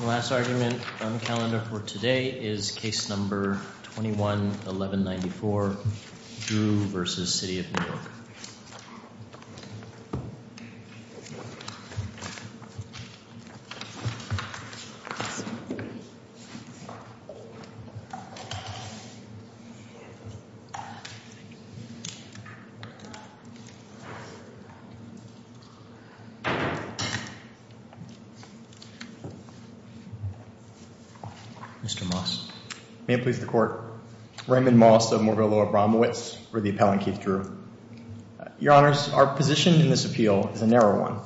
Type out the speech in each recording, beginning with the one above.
The last argument on the calendar for today is Case No. 21-1194, Drew v. City of New York Mr. Moss May it please the Court. Raymond Moss of Moorville Law Obramowitz for the appellant, Keith Drew. Your Honors, our position in this appeal is a narrow one.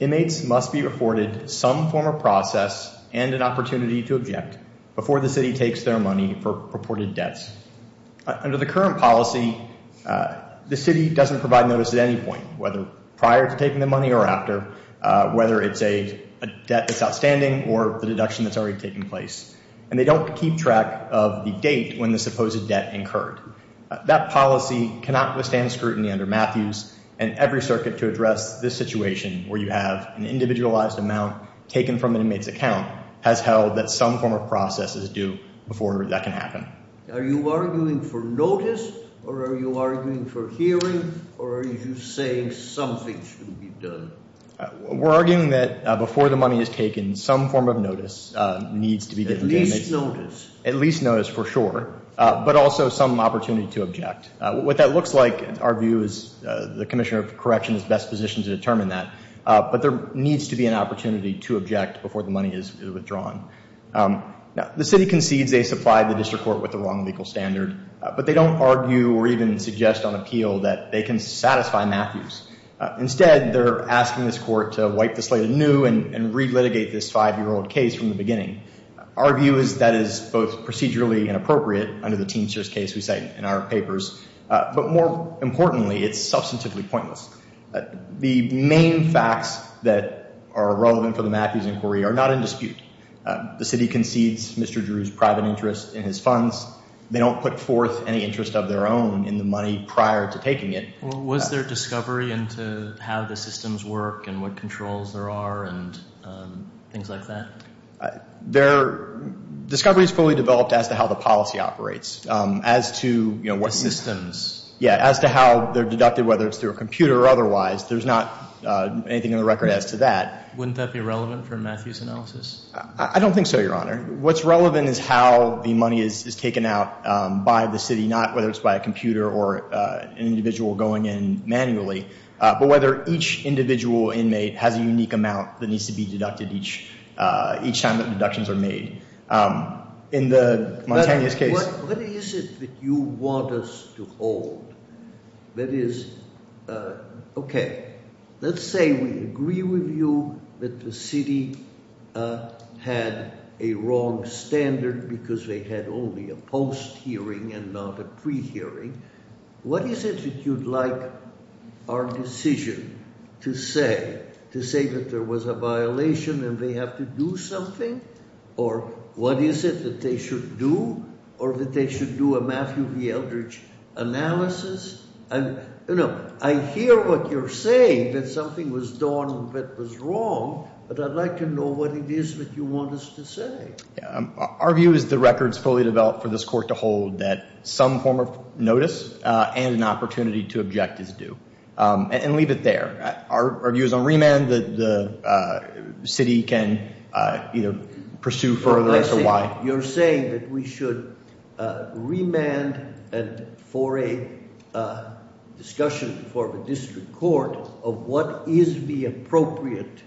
Inmates must be afforded some form of process and an opportunity to object before the City takes their money for purported debts. Under the current policy, the City doesn't provide notice at any point, whether prior to taking the money or after, whether it's a debt that's outstanding or the deduction that's already taken place. And they don't keep track of the date when the supposed debt incurred. That policy cannot withstand scrutiny under Matthews, and every circuit to address this situation where you have an individualized amount taken from an inmate's account has held that some form of process is due before that can happen. Are you arguing for notice, or are you arguing for hearing, or are you saying something should be done? We're arguing that before the money is taken, some form of notice needs to be given. At least notice. At least notice, for sure, but also some opportunity to object. What that looks like, our view is the Commissioner of Correction is best positioned to determine that. But there needs to be an opportunity to object before the money is withdrawn. The City concedes they supplied the District Court with the wrong legal standard, but they don't argue or even suggest on appeal that they can satisfy Matthews. Instead, they're asking this Court to wipe the slate anew and re-litigate this five-year-old case from the beginning. Our view is that is both procedurally inappropriate under the Teamsters case we cite in our papers, but more importantly, it's substantively pointless. The main facts that are relevant for the Matthews inquiry are not in dispute. The City concedes Mr. Drew's private interest in his funds. They don't put forth any interest of their own in the money prior to taking it. Was there discovery into how the systems work and what controls there are and things like that? There, discovery is fully developed as to how the policy operates, as to, you know, what systems. Yeah, as to how they're deducted, whether it's through a computer or otherwise. There's not anything in the record as to that. Wouldn't that be relevant for Matthews' analysis? I don't think so, Your Honor. What's relevant is how the money is taken out by the City, not whether it's by a computer or an individual going in manually, but whether each individual inmate has a unique amount that needs to be deducted each time that deductions are made. In the Montanious case- What is it that you want us to hold? That is, okay, let's say we agree with you that the City had a wrong standard because they had only a post-hearing and not a pre-hearing. What is it that you'd like our decision to say, to say that there was a violation and they have to do something? Or what is it that they should do, or that they should do a Matthew V. Eldridge analysis? You know, I hear what you're saying, that something was done that was wrong, but I'd like to know what it is that you want us to say. Our view is the record is fully developed for this court to hold that some form of notice and an opportunity to object is due. And leave it there. Our view is on remand, that the City can either pursue further as to why- You're saying that we should remand for a discussion before the District Court of what is the appropriate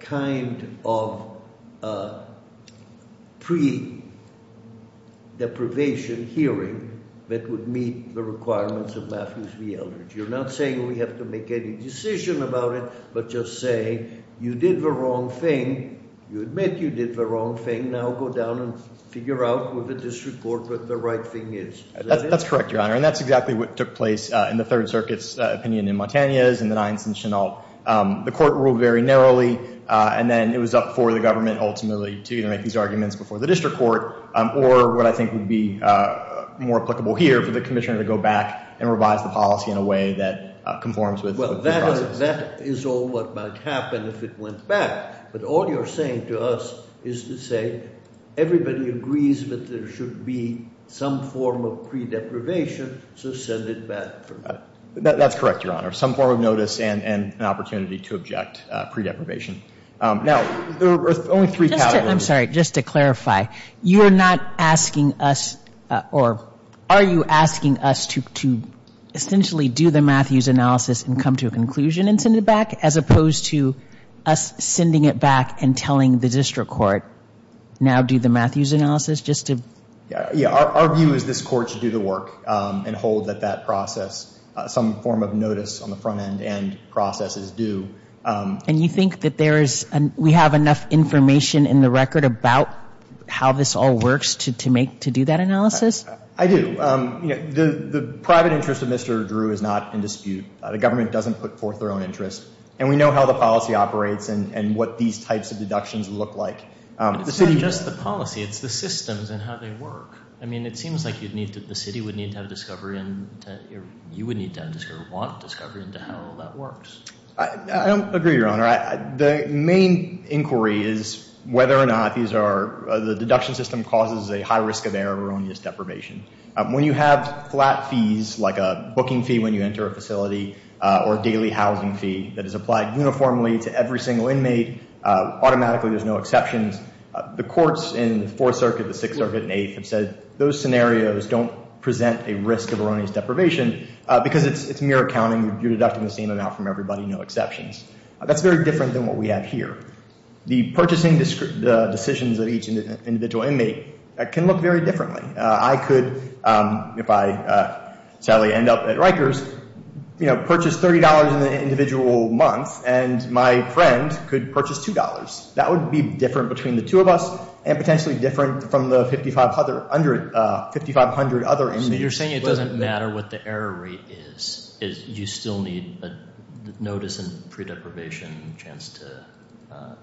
kind of pre-deprivation hearing that would meet the requirements of Matthews V. Eldridge. figure out with the District Court what the right thing is. That's correct, Your Honor, and that's exactly what took place in the Third Circuit's opinion in Mantegna's and the Nines and Chenault. The court ruled very narrowly, and then it was up for the government ultimately to either make these arguments before the District Court, or what I think would be more applicable here for the Commissioner to go back and revise the policy in a way that conforms with the process. That is all what might happen if it went back. But all you're saying to us is to say everybody agrees that there should be some form of pre-deprivation, so send it back. That's correct, Your Honor. Some form of notice and an opportunity to object pre-deprivation. Now, there are only three categories- I'm sorry. Just to clarify, you are not asking us, or are you asking us to essentially do the Matthews analysis and come to a conclusion and send it back as opposed to us sending it back and telling the District Court, now do the Matthews analysis just to- Yeah. Our view is this court should do the work and hold that that process, some form of notice on the front end and process is due. And you think that we have enough information in the record about how this all works to do that analysis? I do. The private interest of Mr. Drew is not in dispute. The government doesn't put forth their own interest. And we know how the policy operates and what these types of deductions look like. It's not just the policy. It's the systems and how they work. I mean, it seems like the city would need to have discovery and you would need to want discovery into how that works. I don't agree, Your Honor. The main inquiry is whether or not the deduction system causes a high risk of error or erroneous deprivation. When you have flat fees like a booking fee when you enter a facility or a daily housing fee that is applied uniformly to every single inmate, automatically there's no exceptions. The courts in the Fourth Circuit, the Sixth Circuit and Eighth have said those scenarios don't present a risk of erroneous deprivation because it's mere accounting. You're deducting the same amount from everybody, no exceptions. That's very different than what we have here. The purchasing decisions of each individual inmate can look very differently. I could, if I sadly end up at Rikers, you know, purchase $30 in an individual month and my friend could purchase $2. That would be different between the two of us and potentially different from the 5,500 other inmates. So you're saying it doesn't matter what the error rate is. You still need a notice and pre-deprivation chance to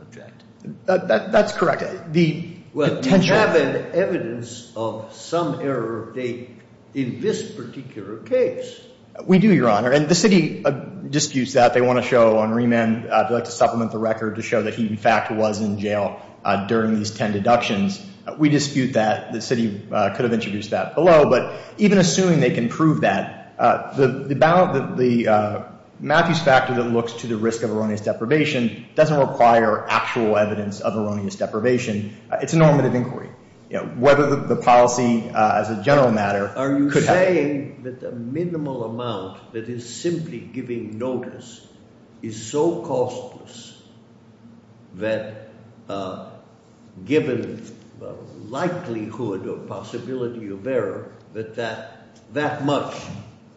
object. That's correct. The potential – Well, you have evidence of some error of date in this particular case. We do, Your Honor. And the city disputes that. They want to show on remand. They'd like to supplement the record to show that he, in fact, was in jail during these ten deductions. We dispute that. The city could have introduced that below. But even assuming they can prove that, the Matthews factor that looks to the risk of erroneous deprivation doesn't require actual evidence of erroneous deprivation. It's a normative inquiry. Whether the policy as a general matter could have – is simply giving notice is so costless that given likelihood or possibility of error that that much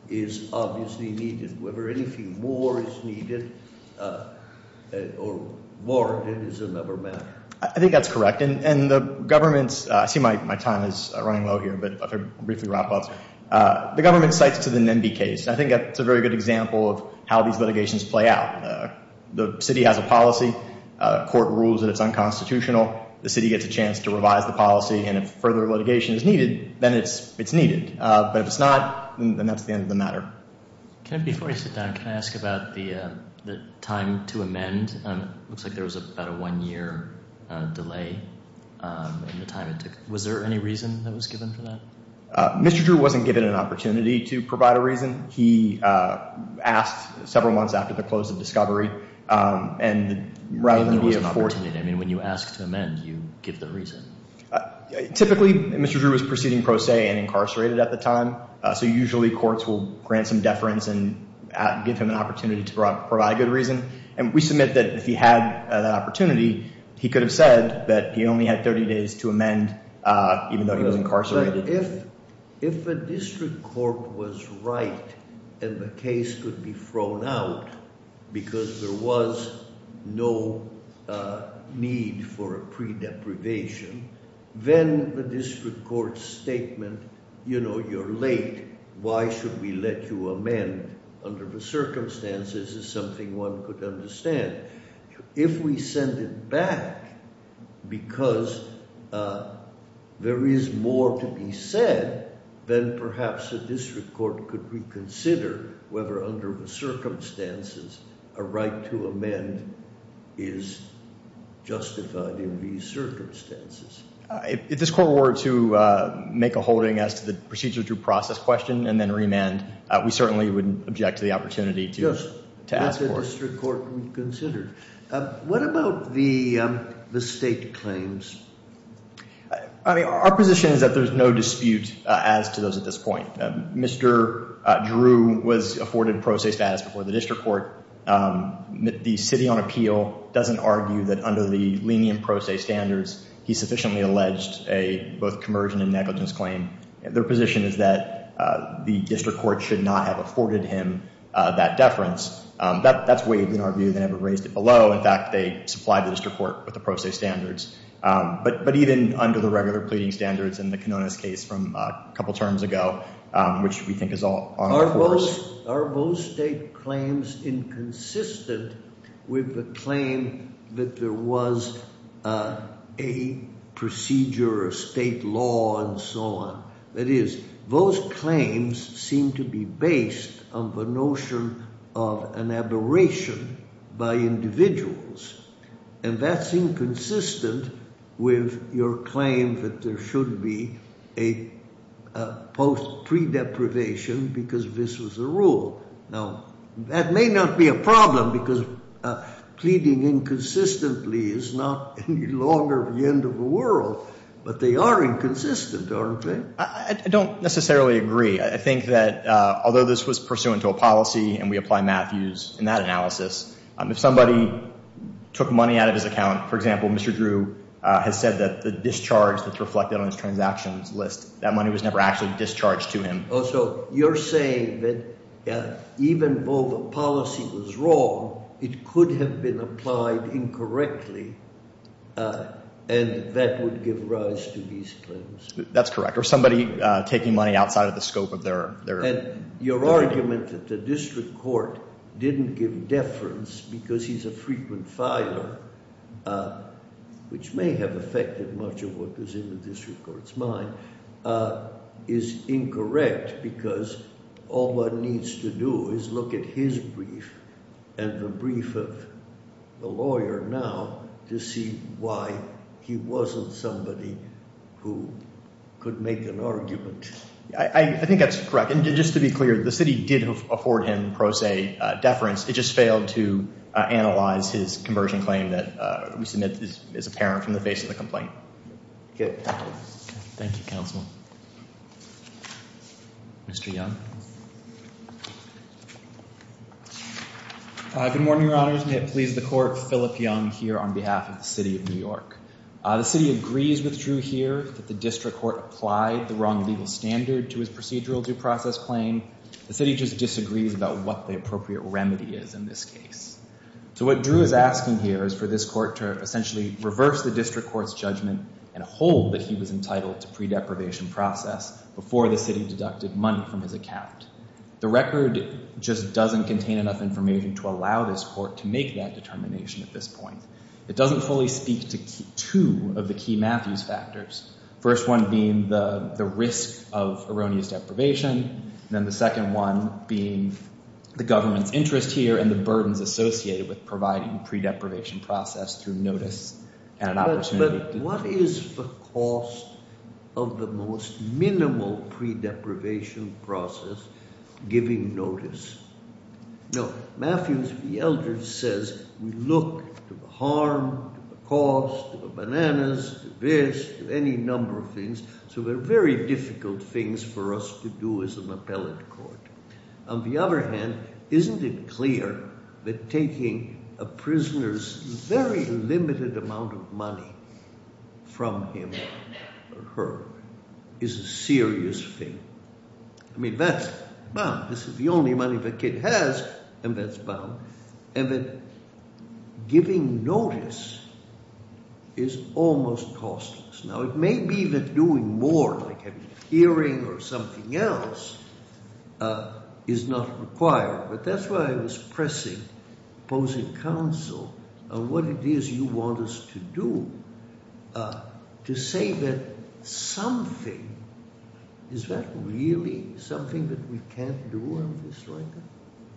is obviously needed. Whether anything more is needed or warranted is another matter. I think that's correct. And the government's – I see my time is running low here, but I'll briefly wrap up. The government cites to the NIMBY case. I think that's a very good example of how these litigations play out. The city has a policy. Court rules that it's unconstitutional. The city gets a chance to revise the policy. And if further litigation is needed, then it's needed. But if it's not, then that's the end of the matter. Before I sit down, can I ask about the time to amend? It looks like there was about a one-year delay in the time it took. Was there any reason that was given for that? Mr. Drew wasn't given an opportunity to provide a reason. He asked several months after the close of discovery. And rather than be afforded – I mean, when you ask to amend, you give the reason. Typically, Mr. Drew was proceeding pro se and incarcerated at the time. So usually courts will grant some deference and give him an opportunity to provide a good reason. And we submit that if he had an opportunity, he could have said that he only had 30 days to amend even though he was incarcerated. But if a district court was right and the case could be thrown out because there was no need for a pre-deprivation, then the district court's statement, you know, you're late, why should we let you amend under the circumstances, is something one could understand. If we send it back because there is more to be said, then perhaps a district court could reconsider whether under the circumstances a right to amend is justified in these circumstances. If this court were to make a holding as to the procedure to process question and then remand, we certainly would object to the opportunity to ask for it. If a district court would consider. What about the state claims? I mean, our position is that there's no dispute as to those at this point. Mr. Drew was afforded pro se status before the district court. The city on appeal doesn't argue that under the lenient pro se standards, he sufficiently alleged a both convergent and negligence claim. Their position is that the district court should not have afforded him that deference. That's waived in our view. They never raised it below. In fact, they supplied the district court with the pro se standards. But even under the regular pleading standards in the Kenona's case from a couple terms ago, which we think is all. Are both state claims inconsistent with the claim that there was a procedure, a state law and so on? That is, those claims seem to be based on the notion of an aberration by individuals. And that's inconsistent with your claim that there should be a post pre deprivation because this was the rule. Now, that may not be a problem because pleading inconsistently is not any longer the end of the world. But they are inconsistent, aren't they? I don't necessarily agree. I think that although this was pursuant to a policy and we apply Matthews in that analysis, if somebody took money out of his account. For example, Mr. Drew has said that the discharge that's reflected on his transactions list, that money was never actually discharged to him. So you're saying that even though the policy was wrong, it could have been applied incorrectly. And that would give rise to these claims. That's correct. Or somebody taking money outside of the scope of their. And your argument that the district court didn't give deference because he's a frequent filer, which may have affected much of what was in the district court's mind, is incorrect. Because all one needs to do is look at his brief and the brief of the lawyer now to see why he wasn't somebody who could make an argument. I think that's correct. And just to be clear, the city did afford him pro se deference. It just failed to analyze his conversion claim that we submit as apparent from the face of the complaint. Thank you, counsel. Mr. Young. Good morning, your honors. May it please the court. Philip Young here on behalf of the city of New York. The city agrees with Drew here that the district court applied the wrong legal standard to his procedural due process claim. The city just disagrees about what the appropriate remedy is in this case. So what Drew is asking here is for this court to essentially reverse the district court's judgment and hold that he was entitled to pre-deprivation process before the city deducted money from his account. The record just doesn't contain enough information to allow this court to make that determination at this point. It doesn't fully speak to two of the key Matthews factors. First one being the risk of erroneous deprivation. Then the second one being the government's interest here and the burdens associated with providing pre-deprivation process through notice and an opportunity. But what is the cost of the most minimal pre-deprivation process giving notice? No, Matthews v. Eldridge says we look to the harm, to the cost, to the bananas, to this, to any number of things. So they're very difficult things for us to do as an appellate court. On the other hand, isn't it clear that taking a prisoner's very limited amount of money from him or her is a serious thing? I mean that's bound. This is the only money the kid has and that's bound. And that giving notice is almost costless. Now it may be that doing more, like having a hearing or something else, is not required. But that's why I was pressing opposing counsel on what it is you want us to do. To say that something, is that really something that we can't do on this record?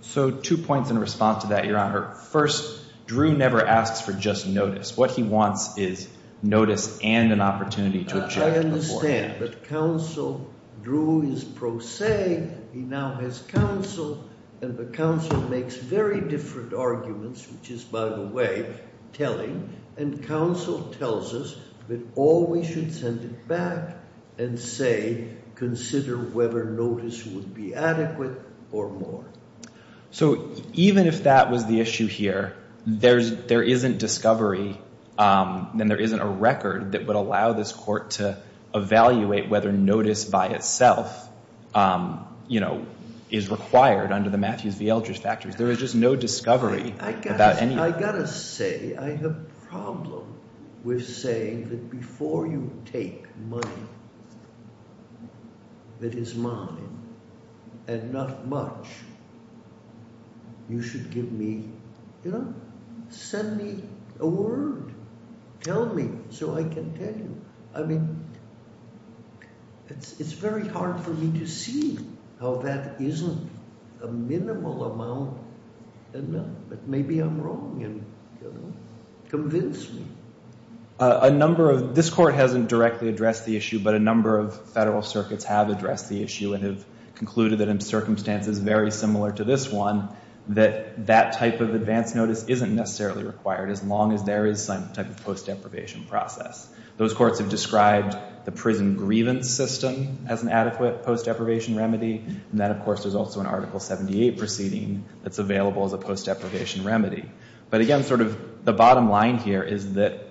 So two points in response to that, Your Honor. First, Drew never asks for just notice. What he wants is notice and an opportunity to object. I understand. But counsel, Drew is pro se. He now has counsel. And the counsel makes very different arguments, which is, by the way, telling. And counsel tells us that all we should send it back and say, consider whether notice would be adequate or more. So even if that was the issue here, there isn't discovery and there isn't a record that would allow this court to evaluate whether notice by itself, you know, is required under the Matthews v. Eldridge factors. There is just no discovery about any of that. I've got to say I have a problem with saying that before you take money that is mine and not much, you should give me, you know, send me a word. Tell me so I can tell you. I mean, it's very hard for me to see how that isn't a minimal amount enough. But maybe I'm wrong and, you know, convince me. A number of – this court hasn't directly addressed the issue, but a number of federal circuits have addressed the issue and have concluded that in circumstances very similar to this one, that that type of advance notice isn't necessarily required as long as there is some type of post deprivation process. Those courts have described the prison grievance system as an adequate post deprivation remedy. And then, of course, there's also an Article 78 proceeding that's available as a post deprivation remedy. But again, sort of the bottom line here is that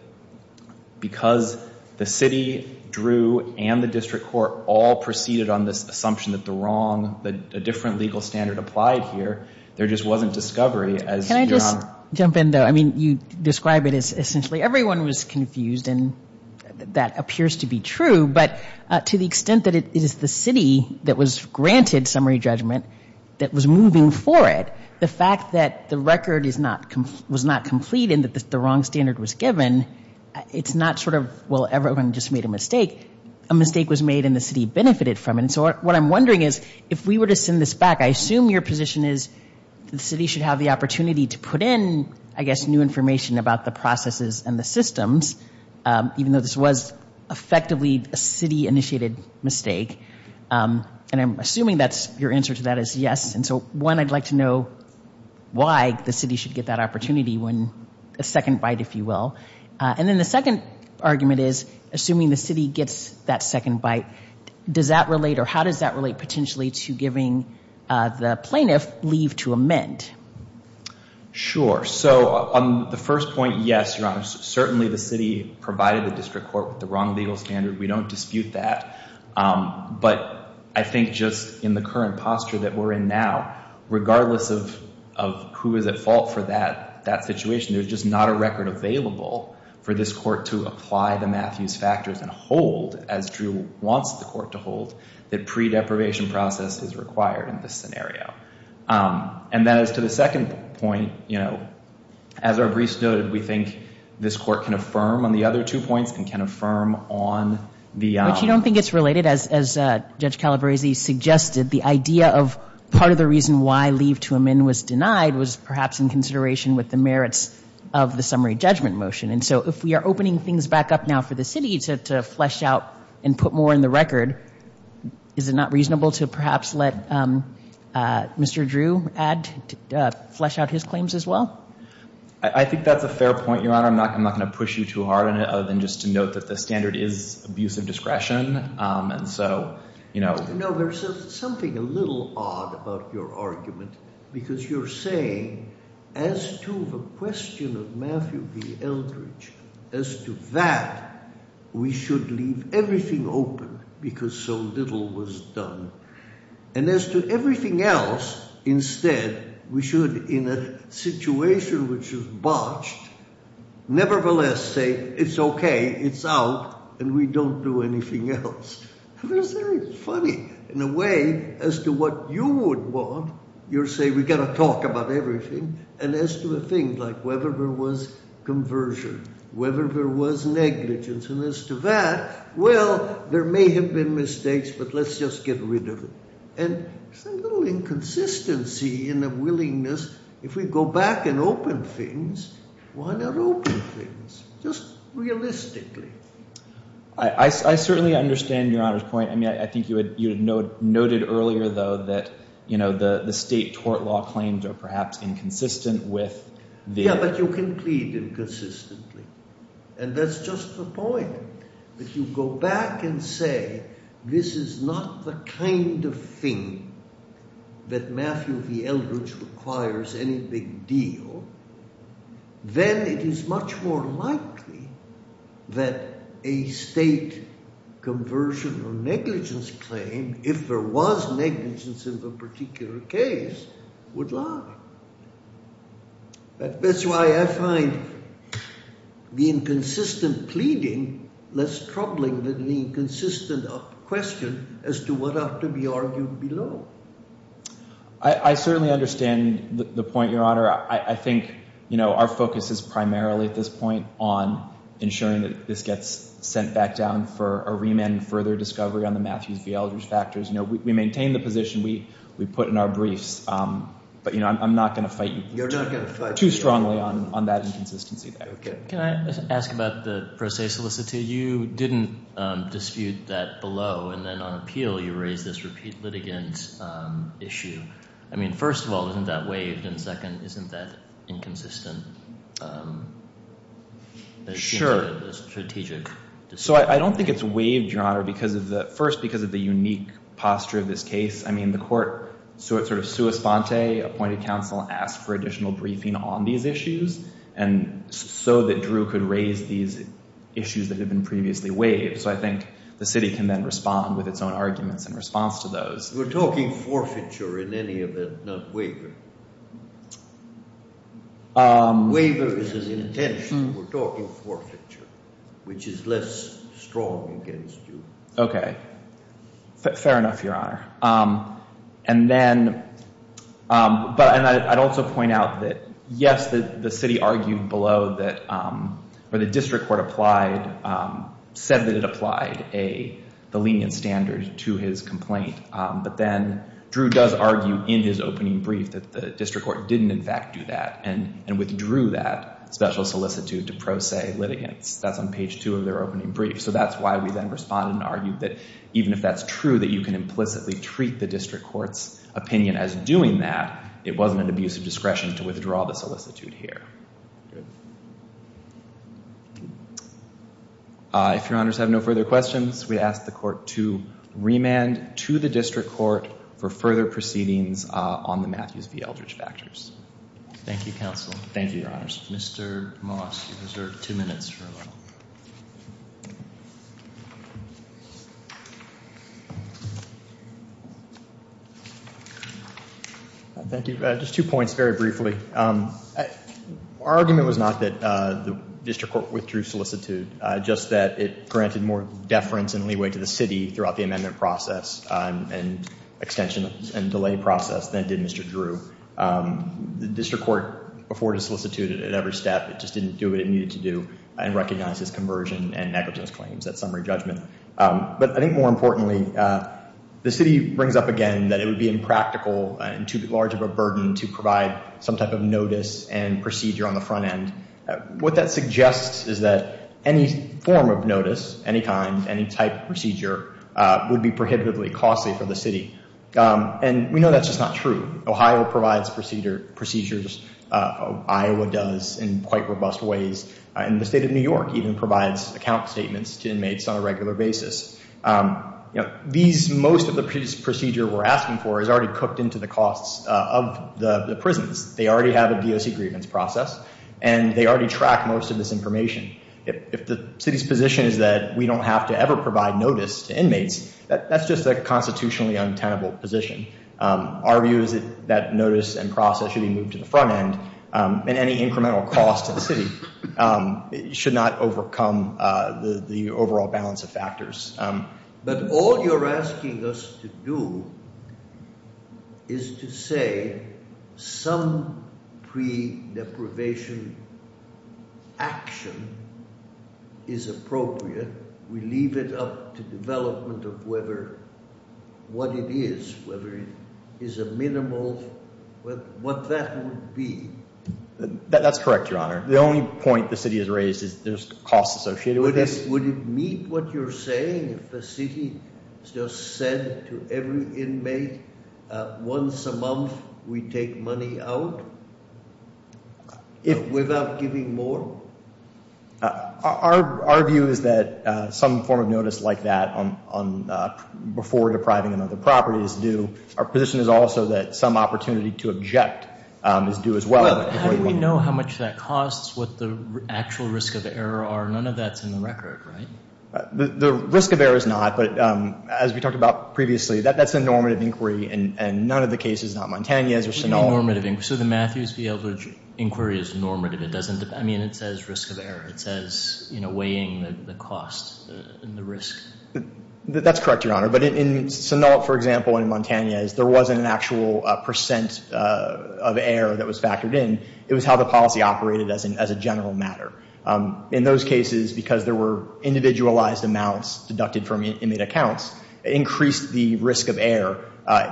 because the city drew and the district court all proceeded on this assumption that the wrong – that a different legal standard applied here, there just wasn't discovery as you're on – Jump in, though. I mean, you describe it as essentially everyone was confused, and that appears to be true. But to the extent that it is the city that was granted summary judgment that was moving for it, the fact that the record is not – was not complete and that the wrong standard was given, it's not sort of, well, everyone just made a mistake. A mistake was made and the city benefited from it. And so what I'm wondering is if we were to send this back, I assume your position is the city should have the opportunity to put in, I guess, new information about the processes and the systems, even though this was effectively a city-initiated mistake. And I'm assuming that's – your answer to that is yes. And so, one, I'd like to know why the city should get that opportunity when – a second bite, if you will. And then the second argument is, assuming the city gets that second bite, does that relate or how does that relate potentially to giving the plaintiff leave to amend? Sure. So on the first point, yes, Your Honor. Certainly the city provided the district court with the wrong legal standard. We don't dispute that. But I think just in the current posture that we're in now, regardless of who is at fault for that situation, there's just not a record available for this court to apply the Matthews factors and hold, as Drew wants the court to hold, that pre-deprivation process is required in this scenario. And then as to the second point, you know, as our briefs noted, we think this court can affirm on the other two points and can affirm on the – But you don't think it's related, as Judge Calabresi suggested, the idea of part of the reason why leave to amend was denied was perhaps in consideration with the merits of the summary judgment motion. And so if we are opening things back up now for the city to flesh out and put more in the record, is it not reasonable to perhaps let Mr. Drew add – flesh out his claims as well? I think that's a fair point, Your Honor. I'm not going to push you too hard on it other than just to note that the standard is abuse of discretion. And so, you know – No, there's something a little odd about your argument because you're saying as to the question of Matthew v. Eldridge, as to that, we should leave everything open because so little was done. And as to everything else, instead, we should, in a situation which is botched, nevertheless say it's okay, it's out, and we don't do anything else. In a way, as to what you would want, you're saying we've got to talk about everything. And as to a thing like whether there was conversion, whether there was negligence, and as to that, well, there may have been mistakes, but let's just get rid of it. And there's a little inconsistency in the willingness – if we go back and open things, why not open things just realistically? I certainly understand Your Honor's point. I mean, I think you had noted earlier, though, that the state tort law claims are perhaps inconsistent with the – Yeah, but you can plead inconsistently. And that's just the point. But you go back and say this is not the kind of thing that Matthew v. Eldridge requires any big deal, then it is much more likely that a state conversion or negligence claim, if there was negligence in the particular case, would lie. That's why I find the inconsistent pleading less troubling than the inconsistent question as to what ought to be argued below. I certainly understand the point, Your Honor. I think our focus is primarily at this point on ensuring that this gets sent back down for a remand and further discovery on the Matthews v. Eldridge factors. We maintain the position we put in our briefs, but I'm not going to fight too strongly on that inconsistency there. Can I ask about the pro se solicitude? You didn't dispute that below, and then on appeal you raised this repeat litigant issue. I mean, first of all, isn't that waived? And second, isn't that inconsistent? Sure. So I don't think it's waived, Your Honor, first because of the unique posture of this case. I mean, the court sort of sua sponte, appointed counsel, asked for additional briefing on these issues so that Drew could raise these issues that had been previously waived. So I think the city can then respond with its own arguments in response to those. We're talking forfeiture in any event, not waiver. Waiver is his intention. We're talking forfeiture, which is less strong against you. Okay. Fair enough, Your Honor. And then I'd also point out that, yes, the city argued below that the district court said that it applied the lenient standard to his complaint. But then Drew does argue in his opening brief that the district court didn't, in fact, do that and withdrew that special solicitude to pro se litigants. That's on page two of their opening brief. So that's why we then responded and argued that even if that's true, that you can implicitly treat the district court's opinion as doing that. It wasn't an abuse of discretion to withdraw the solicitude here. If Your Honors have no further questions, we ask the court to remand to the district court for further proceedings on the Matthews v. Eldridge factors. Thank you, counsel. Thank you, Your Honors. Mr. Moss, you have two minutes for a moment. Thank you. Just two points very briefly. Our argument was not that the district court withdrew solicitude, just that it granted more deference and leeway to the city throughout the amendment process and extension and delay process than did Mr. Drew. The district court afforded solicitude at every step. It just didn't do what it needed to do and recognize his conversion and negligence claims at summary judgment. But I think more importantly, the city brings up again that it would be impractical and too large of a burden to provide some type of notice and procedure on the front end. What that suggests is that any form of notice, any kind, any type of procedure would be prohibitively costly for the city. And we know that's just not true. Ohio provides procedure procedures. Iowa does in quite robust ways. And the state of New York even provides account statements to inmates on a regular basis. These most of the procedure we're asking for is already cooked into the costs of the prisons. They already have a DOC grievance process and they already track most of this information. If the city's position is that we don't have to ever provide notice to inmates, that's just a constitutionally untenable position. Our view is that notice and process should be moved to the front end and any incremental cost to the city should not overcome the overall balance of factors. But all you're asking us to do is to say some pre-deprivation action is appropriate. We leave it up to development of whether what it is, whether it is a minimal, what that would be. That's correct, Your Honor. The only point the city has raised is there's costs associated with this. Would it meet what you're saying if the city just said to every inmate once a month we take money out without giving more? Our view is that some form of notice like that before depriving them of their property is due. Our position is also that some opportunity to object is due as well. How do we know how much that costs, what the actual risk of error are? None of that's in the record, right? The risk of error is not, but as we talked about previously, that's a normative inquiry and none of the cases, not Montañez or Sinaloa. So the Matthews v. Eldridge inquiry is normative. I mean, it says risk of error. It says weighing the cost and the risk. That's correct, Your Honor. But in Sinaloa, for example, and in Montañez, there wasn't an actual percent of error that was factored in. It was how the policy operated as a general matter. In those cases, because there were individualized amounts deducted from inmate accounts, it increased the risk of error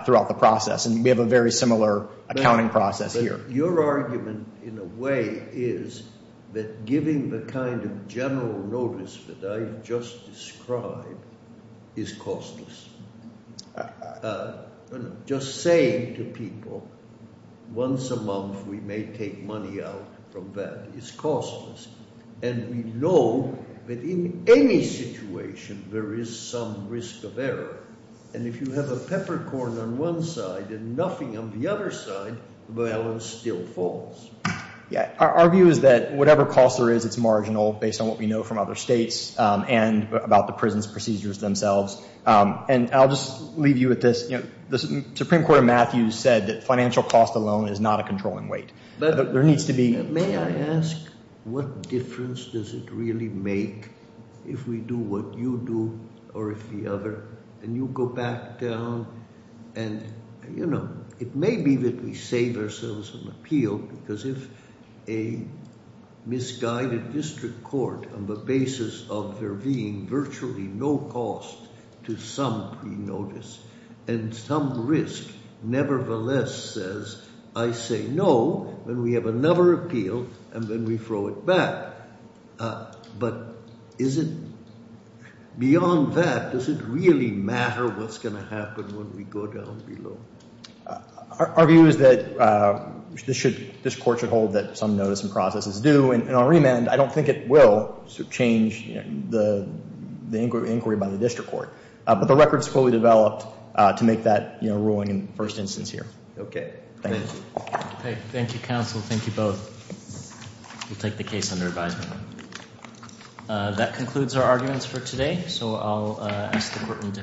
throughout the process. And we have a very similar accounting process here. Your argument in a way is that giving the kind of general notice that I just described is costless. Just saying to people once a month we may take money out from that is costless. And we know that in any situation there is some risk of error. And if you have a peppercorn on one side and nothing on the other side, the balance still falls. Yeah. Our view is that whatever cost there is, it's marginal based on what we know from other states and about the prison's procedures themselves. And I'll just leave you with this. The Supreme Court of Matthews said that financial cost alone is not a controlling weight. May I ask what difference does it really make if we do what you do or if the other, and you go back down and, you know, it may be that we save ourselves an appeal because if a misguided district court on the basis of there being virtually no cost to some pre-notice and some risk nevertheless says I say no, then we have another appeal and then we throw it back. But is it beyond that, does it really matter what's going to happen when we go down below? Our view is that this should, this court should hold that some notice and process is due. And on remand, I don't think it will change the inquiry by the district court. But the record is fully developed to make that ruling in the first instance here. Okay. Thank you. Thank you, counsel. Thank you both. We'll take the case under advisement. That concludes our arguments for today. So I'll ask the court in defense.